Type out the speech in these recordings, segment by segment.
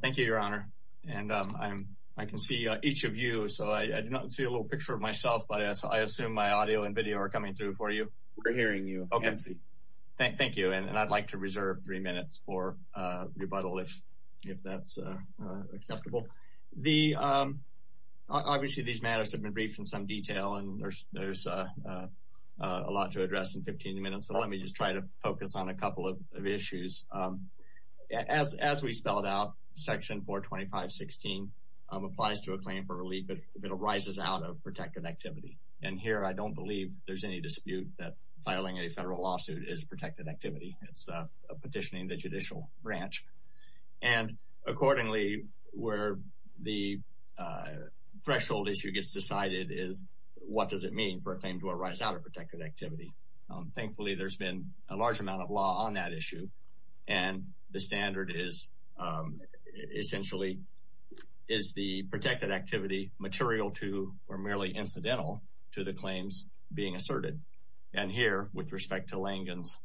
Thank you, Your Honor. I can see each of you, so I do not see a little picture of myself, but I assume my audio and video are coming through for you. We're hearing you, Nancy. Thank you, and I'd like to reserve three minutes for rebuttal, if that's acceptable. Obviously, these matters have been briefed in some detail, and there's a lot to address in 15 minutes, so let me just try to focus on a couple of issues. As we spelled out, Section 425.16 applies to a claim for relief if it arises out of protected activity, and here I don't believe there's any dispute that filing a federal lawsuit is protected activity. It's a petition in the judicial branch. And accordingly, where the threshold issue gets decided is what does it mean for a claim to arise out of protected activity. Thankfully, there's been a large amount of law on that issue, and the standard is essentially is the protected activity material to or merely incidental to the claims being asserted. And here, with respect to Langan's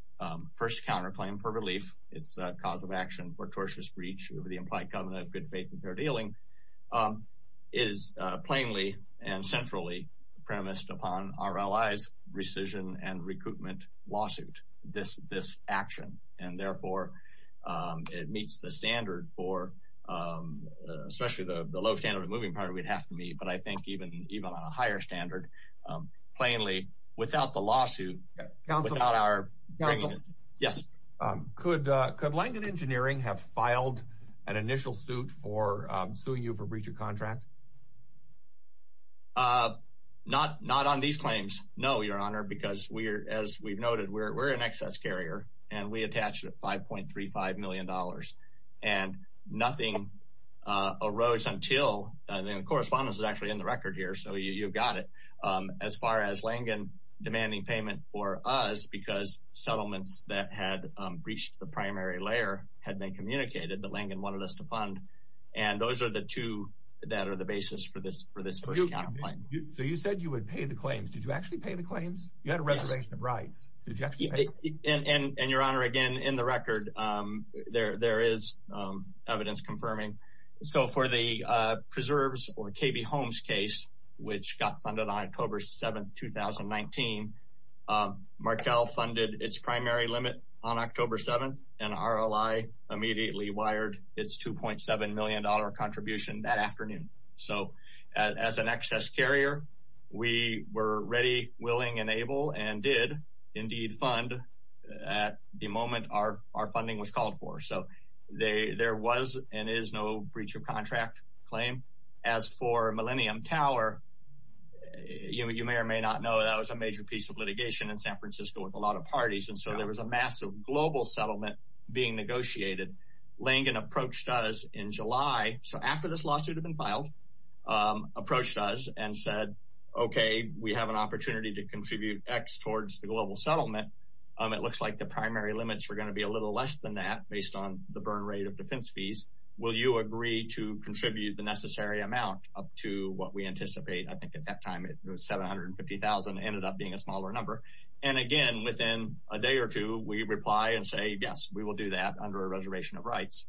first counterclaim for relief, it's a cause of action for tortious breach of the implied covenant of good faith and fair dealing, is plainly and centrally premised upon our allies' rescission and recoupment lawsuit, this action. And therefore, it meets the standard for, especially the low standard of the moving party, we'd have to meet, but I think even on a higher standard, plainly, without the lawsuit, without our bringing it. Yes. Could Langan Engineering have filed an initial suit for suing you for breach of contract? Not on these claims, no, Your Honor, because as we've noted, we're an excess carrier, and we attached $5.35 million. And nothing arose until, and the correspondence is actually in the record here, so you've got it, as far as Langan demanding payment for us, because settlements that had breached the primary layer had been communicated, but Langan wanted us to fund. And those are the two that are the basis for this counterclaim. So you said you would pay the claims. Did you actually pay the claims? You had a reservation of rights. Did you actually pay them? And, Your Honor, again, in the record, there is evidence confirming. So for the preserves or KB Holmes case, which got funded on October 7th, 2019, Markel funded its primary limit on October 7th, and RLI immediately wired its $2.7 million contribution that afternoon. So as an excess carrier, we were ready, willing, and able, and did indeed fund at the moment our funding was called for. So there was and is no breach of contract claim. As for Millennium Tower, you may or may not know that was a major piece of litigation in San Francisco with a lot of parties. And so there was a massive global settlement being negotiated. Langan approached us in July, so after this lawsuit had been filed, approached us and said, okay, we have an opportunity to contribute X towards the global settlement. It looks like the primary limits were going to be a little less than that based on the burn rate of defense fees. Will you agree to contribute the necessary amount up to what we anticipate? I think at that time it was $750,000. It ended up being a smaller number. And again, within a day or two, we reply and say, yes, we will do that under a reservation of rights.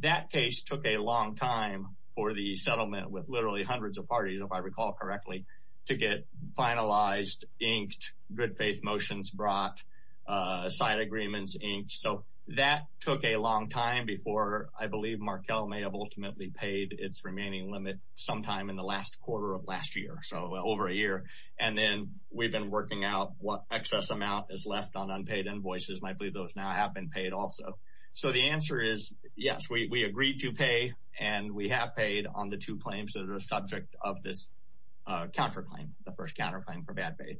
That case took a long time for the settlement with literally hundreds of parties, if I recall correctly, to get finalized, inked, good faith motions brought, side agreements inked. So that took a long time before I believe Markel may have ultimately paid its remaining limit sometime in the last quarter of last year, so over a year. And then we've been working out what excess amount is left on unpaid invoices. I believe those now have been paid also. So the answer is yes, we agreed to pay and we have paid on the two claims that are subject of this counterclaim, the first counterclaim for bad faith.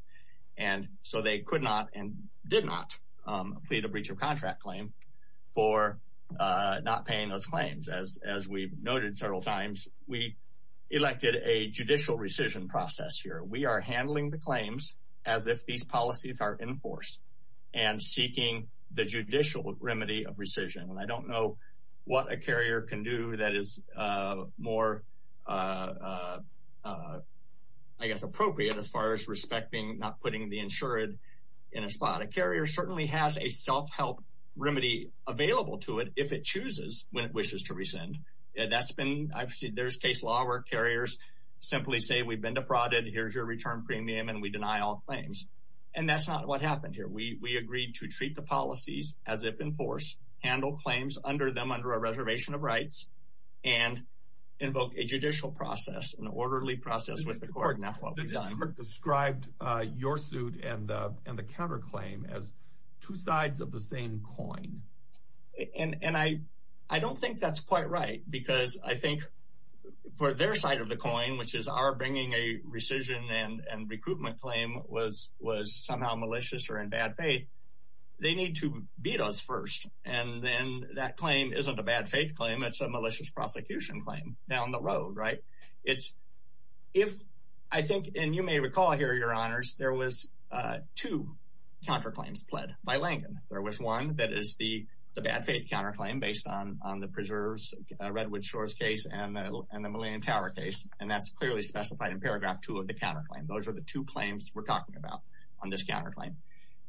And so they could not and did not plead a breach of contract claim for not paying those claims. As we've noted several times, we elected a judicial rescission process here. We are handling the claims as if these policies are in force and seeking the judicial remedy of rescission. And I don't know what a carrier can do that is more, I guess, appropriate as far as respecting not putting the insured in a spot. A carrier certainly has a self-help remedy available to it if it chooses when it wishes to rescind. That's been I've seen there's case law where carriers simply say we've been defrauded. Here's your return premium and we deny all claims. And that's not what happened here. We agreed to treat the policies as if in force, handle claims under them, under a reservation of rights and invoke a judicial process, an orderly process with the court. Described your suit and the counterclaim as two sides of the same coin. And I I don't think that's quite right, because I think for their side of the coin, which is our bringing a rescission and recruitment claim was was somehow malicious or in bad faith. They need to beat us first. And then that claim isn't a bad faith claim. It's a malicious prosecution claim down the road. Right. It's if I think and you may recall here, your honors, there was two counterclaims pled by Lincoln. There was one that is the bad faith counterclaim based on the preserves Redwood Shores case and the Millennium Tower case. And that's clearly specified in paragraph two of the counterclaim. Those are the two claims we're talking about on this counterclaim.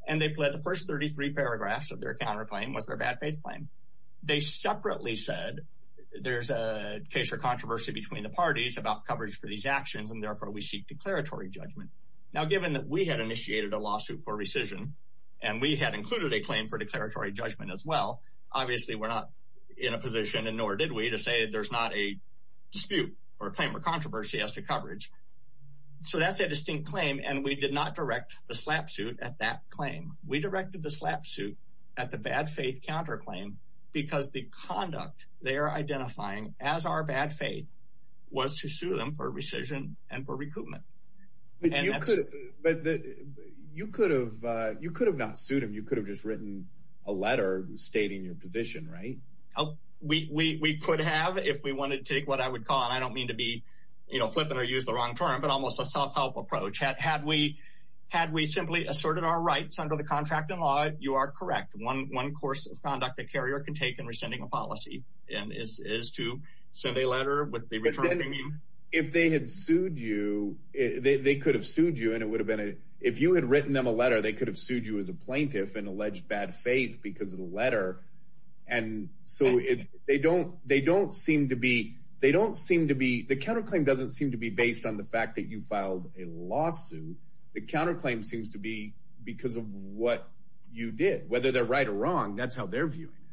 And they pled the first 33 paragraphs of their counterclaim was their bad faith claim. They separately said there's a case or controversy between the parties about coverage for these actions, and therefore we seek declaratory judgment. Now, given that we had initiated a lawsuit for rescission and we had included a claim for declaratory judgment as well, obviously, we're not in a position. And nor did we to say there's not a dispute or claim or controversy as to coverage. So that's a distinct claim. And we did not direct the slap suit at that claim. We directed the slap suit at the bad faith counterclaim because the conduct they are identifying as our bad faith was to sue them for rescission and for recruitment. But you could have you could have not sued him. You could have just written a letter stating your position. Right. We could have if we wanted to take what I would call. And I don't mean to be flippant or use the wrong term, but almost a self-help approach. Had we had we simply asserted our rights under the contract in law, you are correct. One course of conduct a carrier can take in rescinding a policy is to send a letter with the return. If they had sued you, they could have sued you. And it would have been if you had written them a letter, they could have sued you as a plaintiff and alleged bad faith because of the letter. And so they don't they don't seem to be they don't seem to be the counterclaim doesn't seem to be based on the fact that you filed a lawsuit. The counterclaim seems to be because of what you did, whether they're right or wrong. That's how they're viewing it.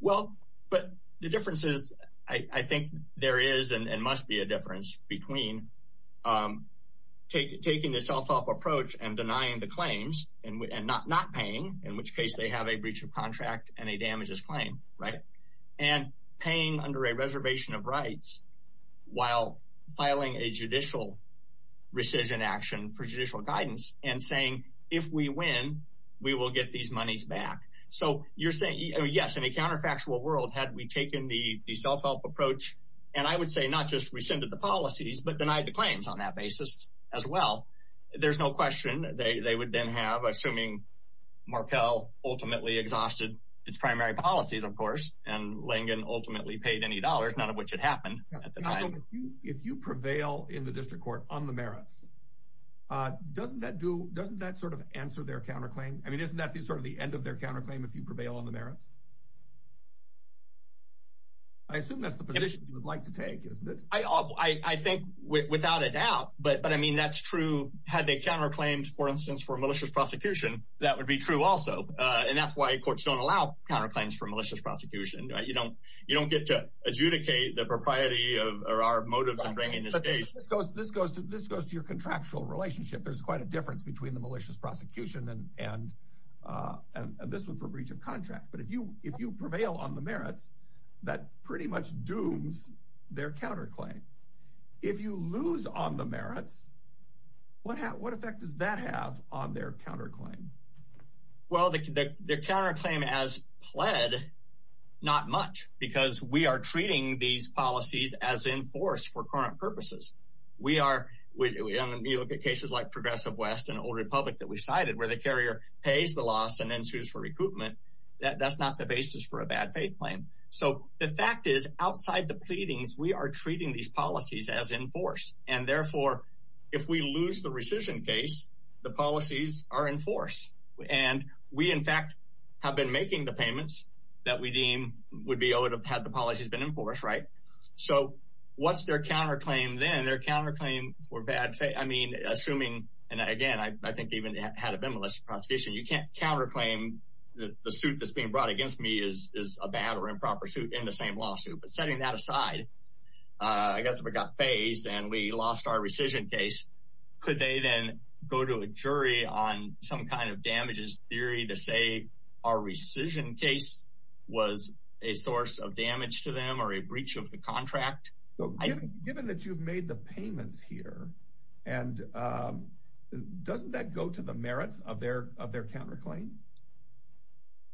Well, but the difference is, I think there is and must be a difference between taking the self-help approach and denying the claims and not not paying, in which case they have a breach of contract and a damages claim. Right. And paying under a reservation of rights while filing a judicial rescission action for judicial guidance and saying, if we win, we will get these monies back. So you're saying, yes, in a counterfactual world, had we taken the self-help approach and I would say not just rescinded the policies, but denied the claims on that basis as well. There's no question they would then have assuming Markel ultimately exhausted its primary policies, of course, and Langen ultimately paid any dollars, none of which had happened at the time. So if you prevail in the district court on the merits, doesn't that do doesn't that sort of answer their counterclaim? I mean, isn't that sort of the end of their counterclaim if you prevail on the merits? I assume that's the position you would like to take, isn't it? I think without a doubt. But but I mean, that's true. Had they counterclaimed, for instance, for malicious prosecution, that would be true also. And that's why courts don't allow counterclaims for malicious prosecution. You don't you don't get to adjudicate the propriety of our motives in bringing this case. This goes to this goes to your contractual relationship. There's quite a difference between the malicious prosecution and this one for breach of contract. But if you if you prevail on the merits, that pretty much dooms their counterclaim. If you lose on the merits, what what effect does that have on their counterclaim? Well, the counterclaim as pled not much because we are treating these policies as in force for current purposes. We are we look at cases like Progressive West and Old Republic that we cited where the carrier pays the loss and then sues for recruitment. That's not the basis for a bad faith claim. So the fact is, outside the pleadings, we are treating these policies as in force. And therefore, if we lose the rescission case, the policies are in force. And we, in fact, have been making the payments that we deem would be owed have had the policies been enforced. Right. So what's their counterclaim? Then their counterclaim were bad. I mean, assuming and again, I think even had it been less prosecution, you can't counterclaim the suit that's being brought against me is a bad or improper suit in the same lawsuit. But setting that aside, I guess we got phased and we lost our rescission case. Could they then go to a jury on some kind of damages theory to say our rescission case was a source of damage to them or a breach of the contract? Given that you've made the payments here and doesn't that go to the merits of their of their counterclaim?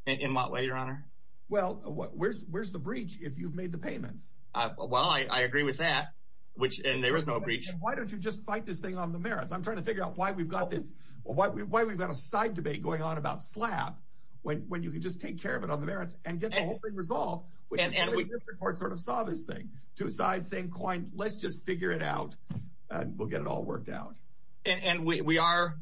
In what way, your honor? Well, where's where's the breach if you've made the payments? Well, I agree with that, which and there was no breach. Why don't you just fight this thing on the merits? I'm trying to figure out why we've got this or why we've got a side debate going on about slab when you can just take care of it on the merits and get the whole thing resolved. And we sort of saw this thing to a side, same coin. Let's just figure it out. We'll get it all worked out. And we are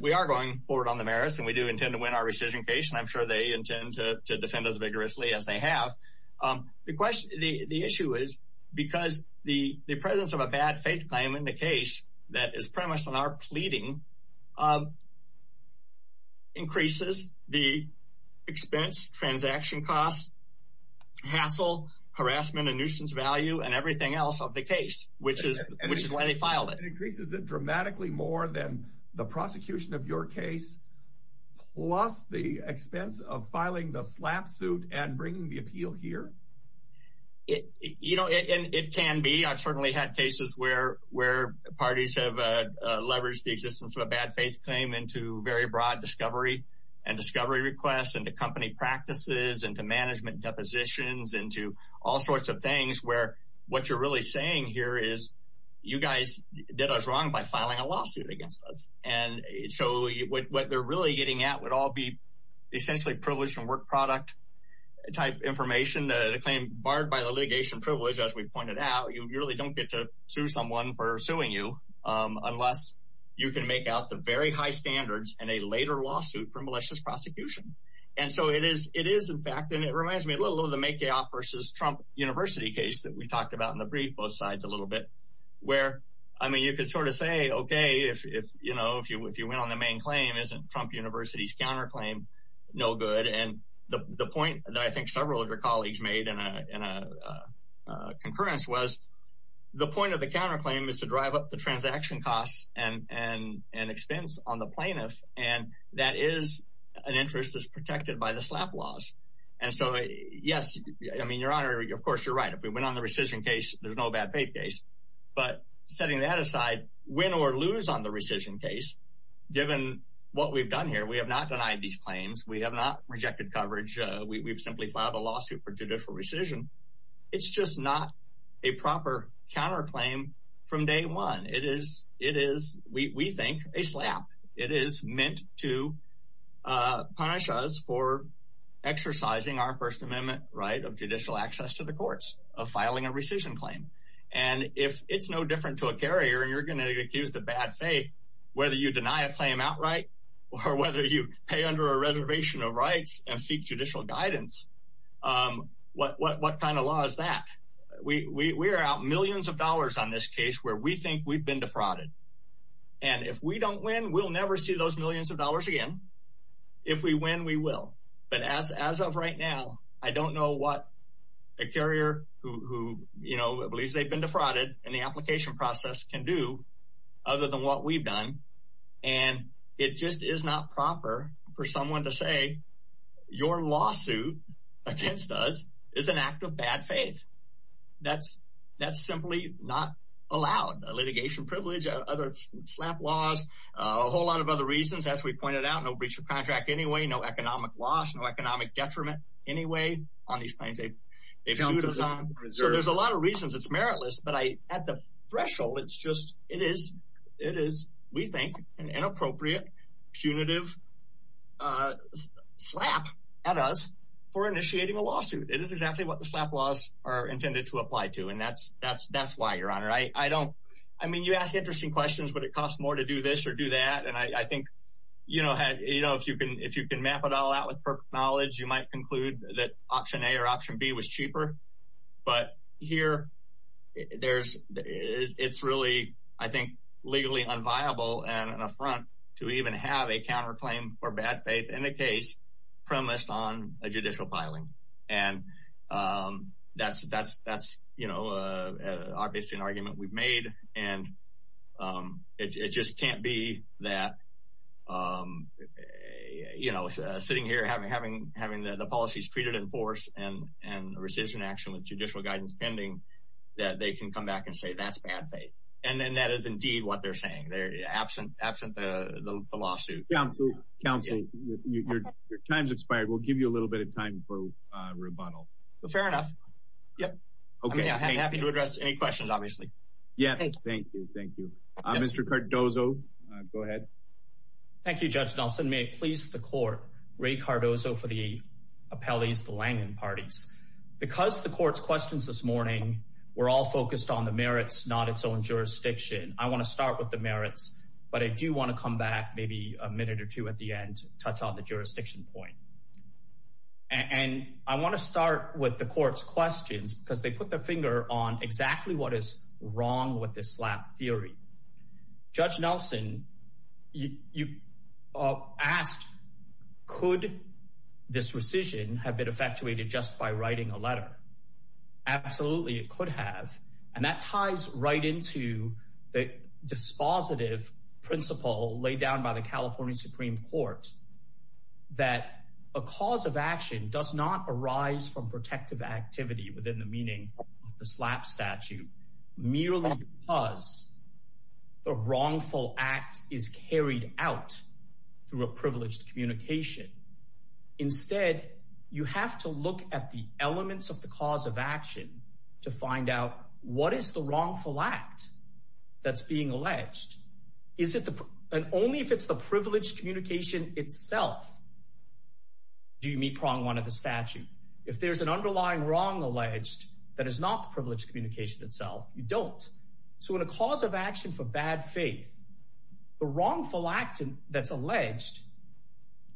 we are going forward on the merits and we do intend to win our rescission case. And I'm sure they intend to defend as vigorously as they have. The question the issue is because the presence of a bad faith claim in the case that is premised on our pleading. Increases the expense, transaction costs, hassle, harassment and nuisance value and everything else of the case, which is which is why they filed it. Increases it dramatically more than the prosecution of your case, plus the expense of filing the slap suit and bringing the appeal here. You know, it can be. I've certainly had cases where where parties have leveraged the existence of a bad faith claim into very broad discovery and discovery requests and the company practices and the management depositions into all sorts of things where what you're really saying here is you guys did us wrong by filing a lawsuit against us. And so what they're really getting at would all be essentially privileged from work product type information. The claim barred by the litigation privilege, as we pointed out, you really don't get to sue someone for suing you unless you can make out the very high standards and a later lawsuit for malicious prosecution. And so it is. It is, in fact, and it reminds me a little of the makeoff versus Trump University case that we talked about in the brief both sides a little bit where, I mean, you could sort of say, OK, if you know, if you if you went on the main claim, isn't Trump University's counterclaim no good? And the point that I think several of your colleagues made in a concurrence was the point of the counterclaim is to drive up the transaction costs and an expense on the plaintiff. And that is an interest that's protected by the slap laws. And so, yes, I mean, your honor, of course, you're right. If we went on the rescission case, there's no bad faith case. But setting that aside, win or lose on the rescission case, given what we've done here, we have not denied these claims. We have not rejected coverage. We've simply filed a lawsuit for judicial rescission. It's just not a proper counterclaim from day one. It is it is, we think, a slap. It is meant to punish us for exercising our First Amendment right of judicial access to the courts of filing a rescission claim. And if it's no different to a carrier and you're going to be accused of bad faith, whether you deny a claim outright or whether you pay under a reservation of rights and seek judicial guidance, what kind of law is that? We are out millions of dollars on this case where we think we've been defrauded. And if we don't win, we'll never see those millions of dollars again. If we win, we will. But as of right now, I don't know what a carrier who believes they've been defrauded in the application process can do other than what we've done. And it just is not proper for someone to say your lawsuit against us is an act of bad faith. That's that's simply not allowed. Litigation privilege, other slap laws, a whole lot of other reasons, as we pointed out, no breach of contract anyway, no economic loss, no economic detriment anyway. So there's a lot of reasons it's meritless. But I at the threshold, it's just it is it is, we think, an inappropriate, punitive slap at us for initiating a lawsuit. It is exactly what the slap laws are intended to apply to. And that's that's that's why, Your Honor, I don't I mean, you ask interesting questions, but it costs more to do this or do that. And I think, you know, you know, if you can if you can map it all out with knowledge, you might conclude that option A or option B was cheaper. But here there's it's really, I think, legally unviable and an affront to even have a counterclaim for bad faith in the case premised on a judicial filing. And that's that's that's, you know, obviously an argument we've made. And it just can't be that, you know, sitting here having having having the policies treated in force and and rescission action with judicial guidance pending that they can come back and say that's bad faith. And then that is indeed what they're saying. They're absent absent the lawsuit. Counsel Counsel, your time's expired. We'll give you a little bit of time for rebuttal. Fair enough. Yep. Okay. I'm happy to address any questions, obviously. Yeah, thank you. Thank you, Mr. Cardozo. Go ahead. Thank you, Judge Nelson. May it please the court. Ray Cardozo for the appellees, the Langen parties. Because the court's questions this morning were all focused on the merits, not its own jurisdiction. I want to start with the merits, but I do want to come back maybe a minute or two at the end. Touch on the jurisdiction point. And I want to start with the court's questions because they put their finger on exactly what is wrong with this slap theory. Judge Nelson, you asked, could this rescission have been effectuated just by writing a letter? Absolutely. It could have. And that ties right into the dispositive principle laid down by the California Supreme Court. That a cause of action does not arise from protective activity within the meaning of the slap statute merely because the wrongful act is carried out through a privileged communication. Instead, you have to look at the elements of the cause of action to find out what is the wrongful act that's being alleged. And only if it's the privileged communication itself do you meet prong one of the statute. If there's an underlying wrong alleged that is not the privileged communication itself, you don't. So in a cause of action for bad faith, the wrongful act that's alleged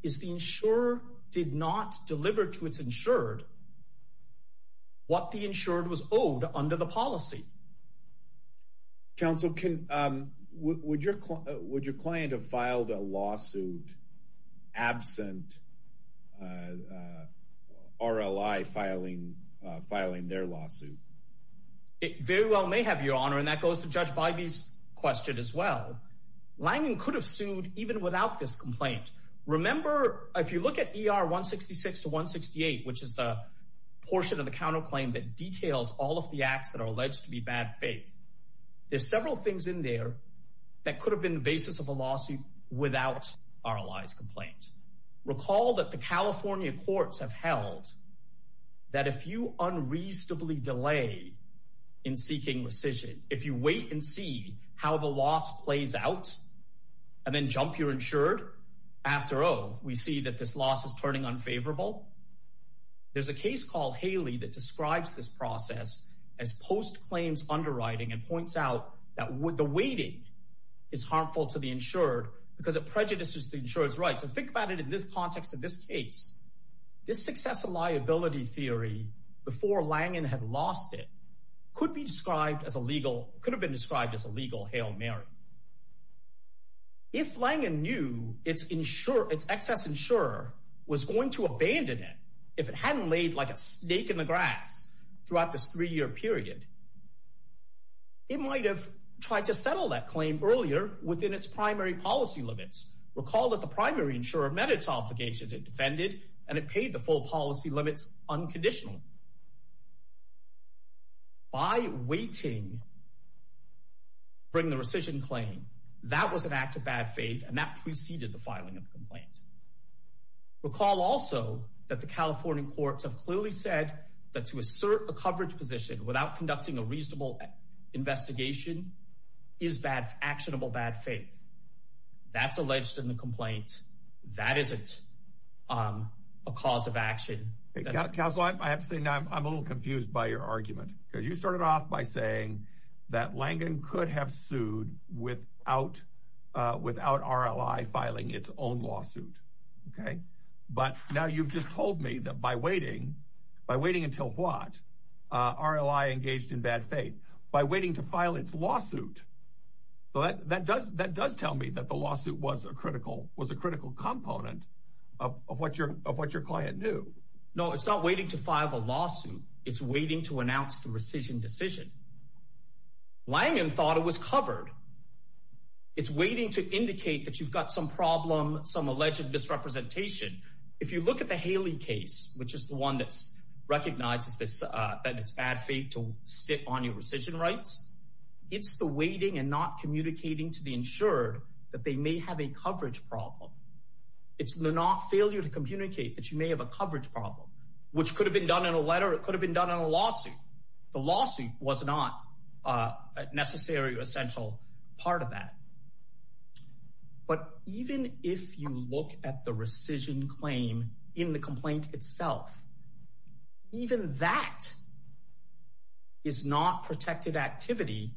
is the insurer did not deliver to its insured what the insured was owed under the policy. Counsel, would your would your client have filed a lawsuit absent R.L.I. filing filing their lawsuit? It very well may have your honor. And that goes to Judge Bybee's question as well. Langen could have sued even without this complaint. Remember, if you look at E.R. 166 to 168, which is the portion of the counterclaim that details all of the acts that are alleged to be bad faith. There's several things in there that could have been the basis of a lawsuit without R.L.I.'s complaint. Recall that the California courts have held that if you unreasonably delay in seeking rescission, if you wait and see how the loss plays out and then jump your insured after all, we see that this loss is turning unfavorable. There's a case called Haley that describes this process as post claims underwriting and points out that with the waiting, it's harmful to the insured because it prejudices the insurance rights. And think about it in this context, in this case, this success of liability theory before Langen had lost it could be described as a legal could have been described as a legal Hail Mary. If Langen knew it's insure, it's excess insurer was going to abandon it if it hadn't laid like a snake in the grass throughout this three year period, it might have tried to settle that claim earlier within its primary policy limits. Recall that the primary insurer met its obligations and defended and it paid the full policy limits unconditionally by waiting. Bring the rescission claim. That was an act of bad faith, and that preceded the filing of the complaint. Recall also that the California courts have clearly said that to assert a coverage position without conducting a reasonable investigation is bad, actionable, bad faith. That's alleged in the complaint. That isn't a cause of action. I have to say now I'm a little confused by your argument because you started off by saying that Langen could have sued without without R.L.I. filing its own lawsuit. OK, but now you've just told me that by waiting, by waiting until what R.L.I. engaged in bad faith by waiting to file its lawsuit. But that does that does tell me that the lawsuit was a critical was a critical component of what your of what your client knew. It's not waiting to file a lawsuit. It's waiting to announce the rescission decision. Langen thought it was covered. It's waiting to indicate that you've got some problem, some alleged misrepresentation. If you look at the Haley case, which is the one that recognizes this, that it's bad faith to sit on your rescission rights. It's the waiting and not communicating to the insured that they may have a coverage problem. It's not failure to communicate that you may have a coverage problem, which could have been done in a letter. It could have been done in a lawsuit. The lawsuit was not a necessary or essential part of that. But even if you look at the rescission claim in the complaint itself. Even that. Is not protected activity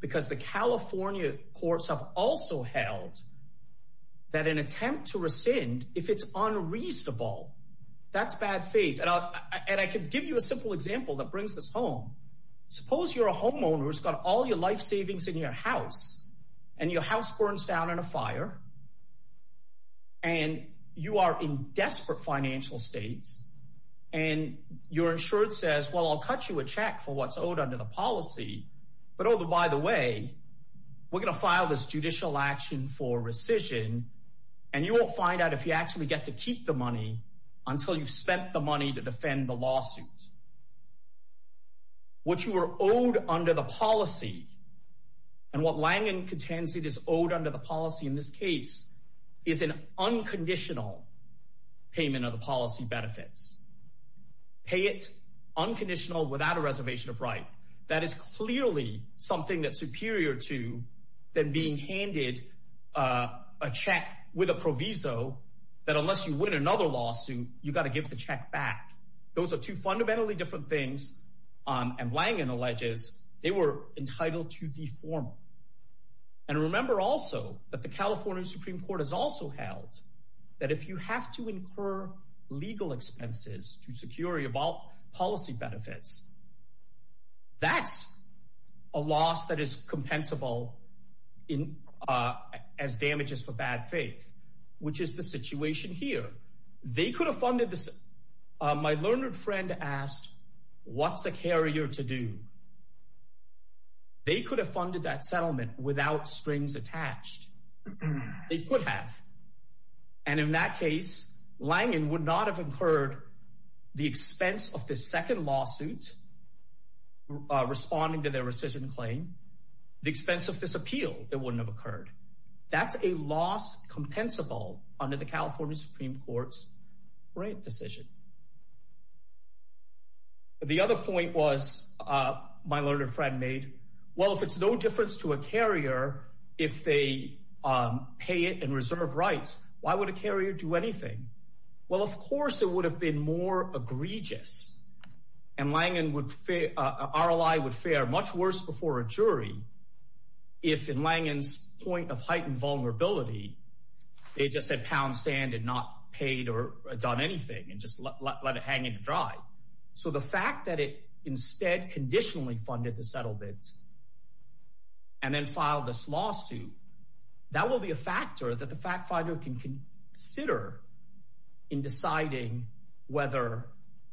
because the California courts have also held that an attempt to rescind, if it's unreasonable, that's bad faith. And I could give you a simple example that brings this home. Suppose you're a homeowner who's got all your life savings in your house and your house burns down in a fire. And you are in desperate financial states and your insured says, well, I'll cut you a check for what's owed under the policy. But over, by the way, we're going to file this judicial action for rescission and you won't find out if you actually get to keep the money until you've spent the money to defend the lawsuit. What you are owed under the policy and what Langen contains, it is owed under the policy. In this case is an unconditional payment of the policy benefits. Pay it unconditional without a reservation of right. That is clearly something that's superior to than being handed a check with a proviso that unless you win another lawsuit, you've got to give the check back. Those are two fundamentally different things. And Langen alleges they were entitled to the form. And remember also that the California Supreme Court has also held that if you have to incur legal expenses to security about policy benefits. That's a loss that is compensable in as damages for bad faith, which is the situation here. They could have funded this. My learned friend asked, what's the carrier to do? They could have funded that settlement without strings attached. They could have. And in that case, Langen would not have incurred the expense of the second lawsuit. Responding to their rescission claim, the expense of this appeal, it wouldn't have occurred. That's a loss compensable under the California Supreme Court's decision. The other point was my learned friend made. Well, if it's no difference to a carrier, if they pay it and reserve rights, why would a carrier do anything? Well, of course, it would have been more egregious. And RLI would fare much worse before a jury. If in Langen's point of heightened vulnerability, they just said pound sand and not paid or done anything and just let it hang in dry. So the fact that it instead conditionally funded the settlements. And then file this lawsuit, that will be a factor that the fact finder can consider in deciding whether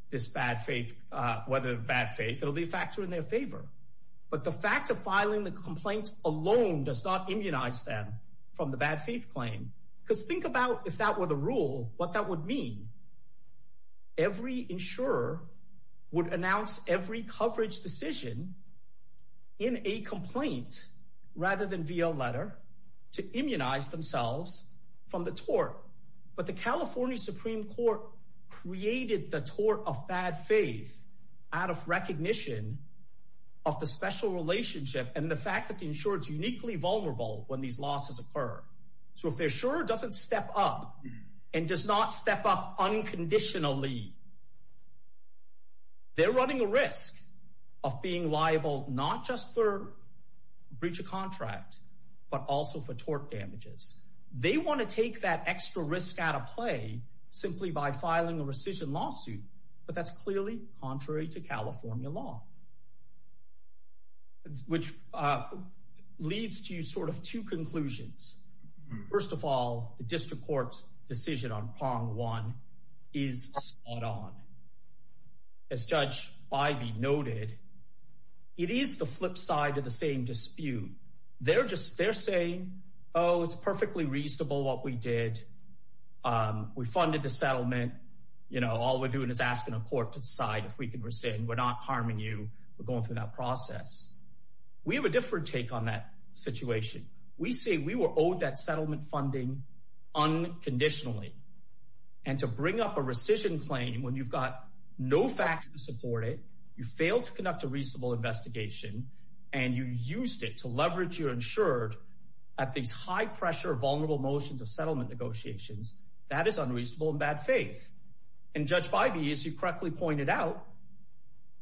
this bad faith, whether bad faith, it'll be a factor in their favor. But the fact of filing the complaint alone does not immunize them from the bad faith claim. Because think about if that were the rule, what that would mean. Every insurer would announce every coverage decision in a complaint rather than via letter to immunize themselves from the tort. But the California Supreme Court created the tort of bad faith out of recognition of the special relationship and the fact that the insurance uniquely vulnerable when these losses occur. So if they're sure it doesn't step up and does not step up unconditionally. They're running a risk of being liable, not just for breach of contract, but also for tort damages. They want to take that extra risk out of play simply by filing a rescission lawsuit. But that's clearly contrary to California law. Which leads to sort of two conclusions. First of all, the district court's decision on prong one is spot on. As Judge Ivey noted, it is the flip side of the same dispute. They're saying, oh, it's perfectly reasonable what we did. We funded the settlement. All we're doing is asking a court to decide if we can rescind. We're not harming you. We're going through that process. We have a different take on that situation. We say we were owed that settlement funding unconditionally. And to bring up a rescission claim when you've got no facts to support it. You failed to conduct a reasonable investigation. And you used it to leverage your insured at these high-pressure, vulnerable motions of settlement negotiations. That is unreasonable and bad faith. And Judge Ivey, as you correctly pointed out,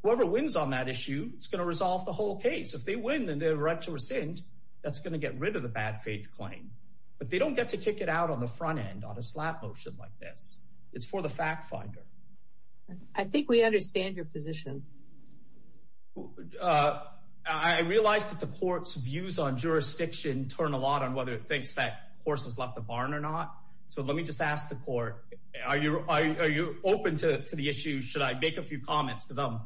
whoever wins on that issue is going to resolve the whole case. If they win and they rescind, that's going to get rid of the bad faith claim. But they don't get to kick it out on the front end on a slap motion like this. It's for the fact finder. I think we understand your position. I realize that the court's views on jurisdiction turn a lot on whether it thinks that horse has left the barn or not. So let me just ask the court, are you open to the issue? Should I make a few comments? Because I'm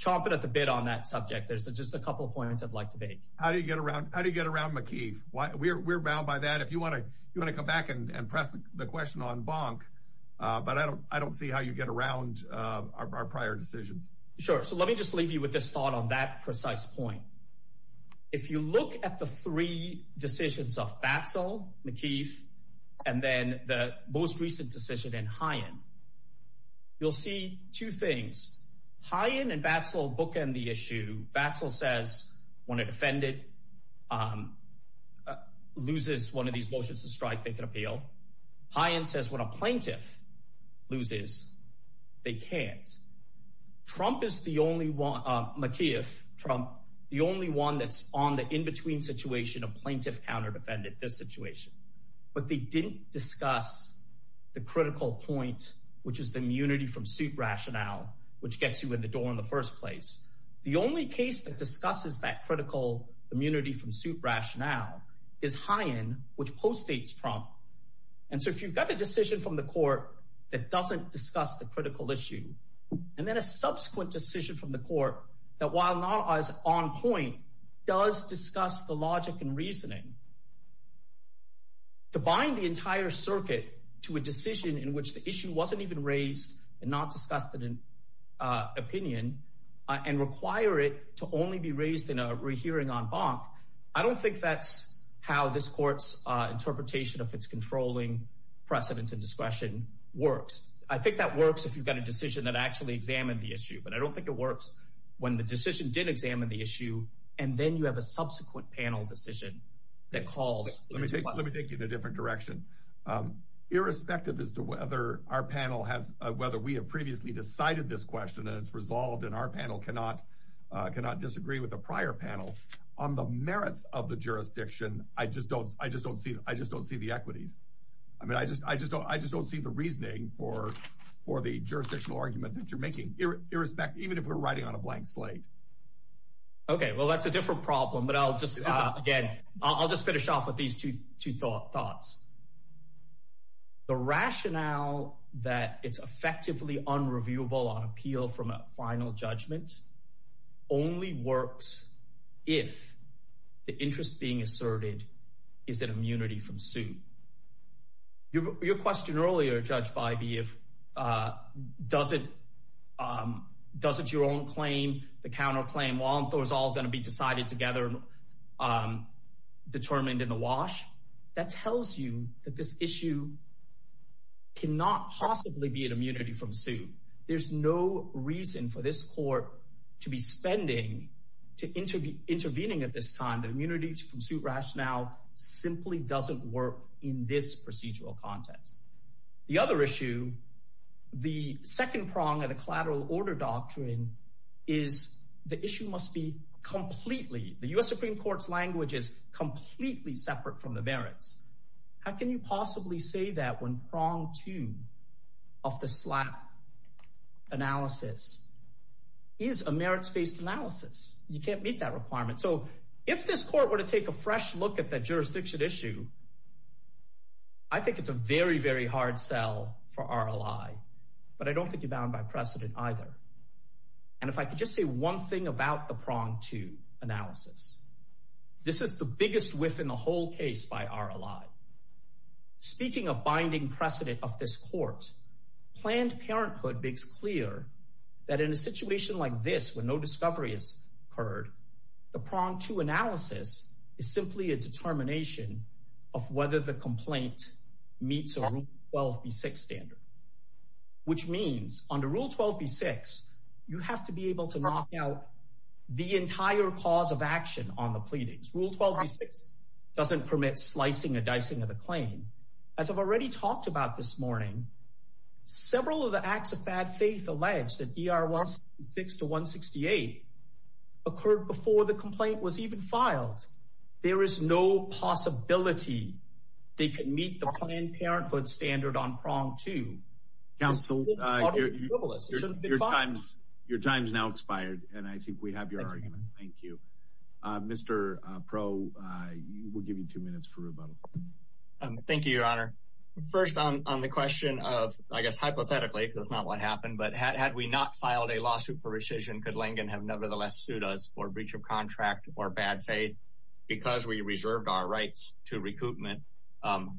chomping at the bit on that subject. There's just a couple of points I'd like to make. How do you get around McKeith? We're bound by that. If you want to come back and press the question on Bonk. But I don't see how you get around our prior decisions. Sure. So let me just leave you with this thought on that precise point. If you look at the three decisions of Batzel, McKeith, and then the most recent decision in Hyen. You'll see two things. Hyen and Batzel bookend the issue. Batzel says when a defendant loses one of these motions of strike, they can appeal. Hyen says when a plaintiff loses, they can't. McKeith, Trump, the only one that's on the in-between situation, a plaintiff counter defended this situation. But they didn't discuss the critical point, which is the immunity from suit rationale, which gets you in the door in the first place. The only case that discusses that critical immunity from suit rationale is Hyen, which postdates Trump. And so if you've got a decision from the court that doesn't discuss the critical issue and then a subsequent decision from the court that, while not as on point, does discuss the logic and reasoning. To bind the entire circuit to a decision in which the issue wasn't even raised and not discussed in an opinion and require it to only be raised in a rehearing en banc. I don't think that's how this court's interpretation of its controlling precedence and discretion works. I think that works if you've got a decision that actually examined the issue. But I don't think it works when the decision did examine the issue. And then you have a subsequent panel decision that calls. Let me take you in a different direction, irrespective as to whether our panel has whether we have previously decided this question and it's resolved. And our panel cannot cannot disagree with a prior panel on the merits of the jurisdiction. I just don't I just don't see. I just don't see the equities. I mean, I just I just I just don't see the reasoning for for the jurisdictional argument that you're making irrespective, even if we're writing on a blank slate. OK, well, that's a different problem, but I'll just again, I'll just finish off with these two two thoughts. The rationale that it's effectively unreviewable on appeal from a final judgment only works if the interest being asserted is an immunity from suit. Your question earlier, Judge Biby, if does it does it your own claim? The counterclaim was all going to be decided together, determined in the wash. That tells you that this issue. Cannot possibly be an immunity from suit. There's no reason for this court to be spending to intervene, intervening at this time. The immunity from suit rationale simply doesn't work in this procedural context. The other issue, the second prong of the collateral order doctrine is the issue must be completely the U.S. Supreme Court's language is completely separate from the merits. How can you possibly say that when prong two of the slap analysis is a merits based analysis? You can't meet that requirement. So if this court were to take a fresh look at that jurisdiction issue. I think it's a very, very hard sell for our ally, but I don't think you're bound by precedent either. And if I could just say one thing about the prong to analysis. This is the biggest within the whole case by our ally. Speaking of binding precedent of this court, planned parenthood makes clear that in a situation like this, when no discovery is heard. The prong to analysis is simply a determination of whether the complaint meets a 12 B6 standard. Which means under rule 12 B6, you have to be able to knock out the entire cause of action on the pleadings. Rule 12 B6 doesn't permit slicing and dicing of the claim. As I've already talked about this morning, several of the acts of bad faith allege that ER 166 to 168 occurred before the complaint was even filed. There is no possibility they could meet the planned parenthood standard on prong two. Your time's now expired, and I think we have your argument. Thank you. Mr. Pro, we'll give you two minutes for rebuttal. Thank you, Your Honor. First, on the question of, I guess, hypothetically, because that's not what happened. But had we not filed a lawsuit for rescission, could Langen have nevertheless sued us for breach of contract or bad faith? Because we reserved our rights to recoupment.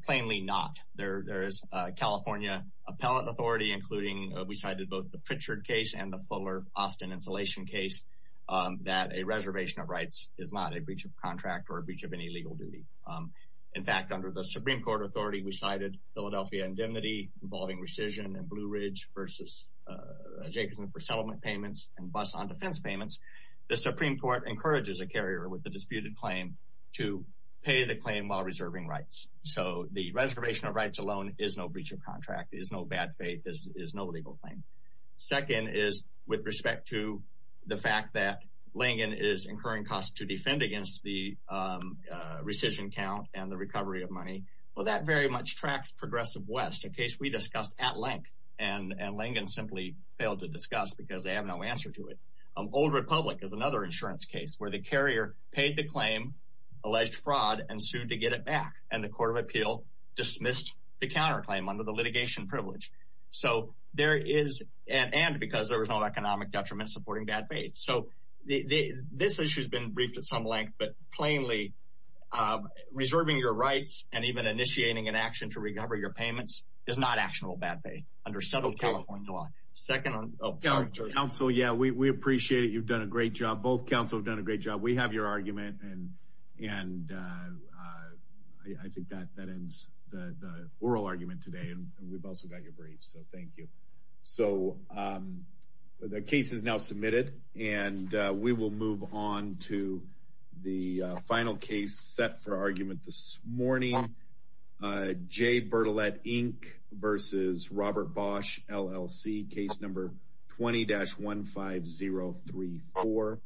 Plainly not. There is a California appellate authority, including we cited both the Pritchard case and the Fuller-Austin insulation case, that a reservation of rights is not a breach of contract or a breach of any legal duty. In fact, under the Supreme Court authority, we cited Philadelphia indemnity involving rescission and Blue Ridge versus adjacent for settlement payments and bus on defense payments. The Supreme Court encourages a carrier with the disputed claim to pay the claim while reserving rights. So the reservation of rights alone is no breach of contract, is no bad faith, is no legal claim. Second is with respect to the fact that Langen is incurring costs to defend against the rescission count and the recovery of money. Well, that very much tracks Progressive West, a case we discussed at length, and Langen simply failed to discuss because they have no answer to it. Old Republic is another insurance case where the carrier paid the claim, alleged fraud, and sued to get it back, and the Court of Appeal dismissed the counterclaim under the litigation privilege. And because there was no economic detriment supporting bad faith. So this issue has been briefed at some length, but plainly reserving your rights and even initiating an action to recover your payments is not actionable bad faith under settled California law. Counsel, yeah, we appreciate it. You've done a great job. Both counsel have done a great job. We have your argument, and I think that ends the oral argument today, and we've also got your briefs, so thank you. So the case is now submitted, and we will move on to the final case set for argument this morning. J. Bertolette, Inc. vs. Robert Bosch, LLC, case number 20-15034.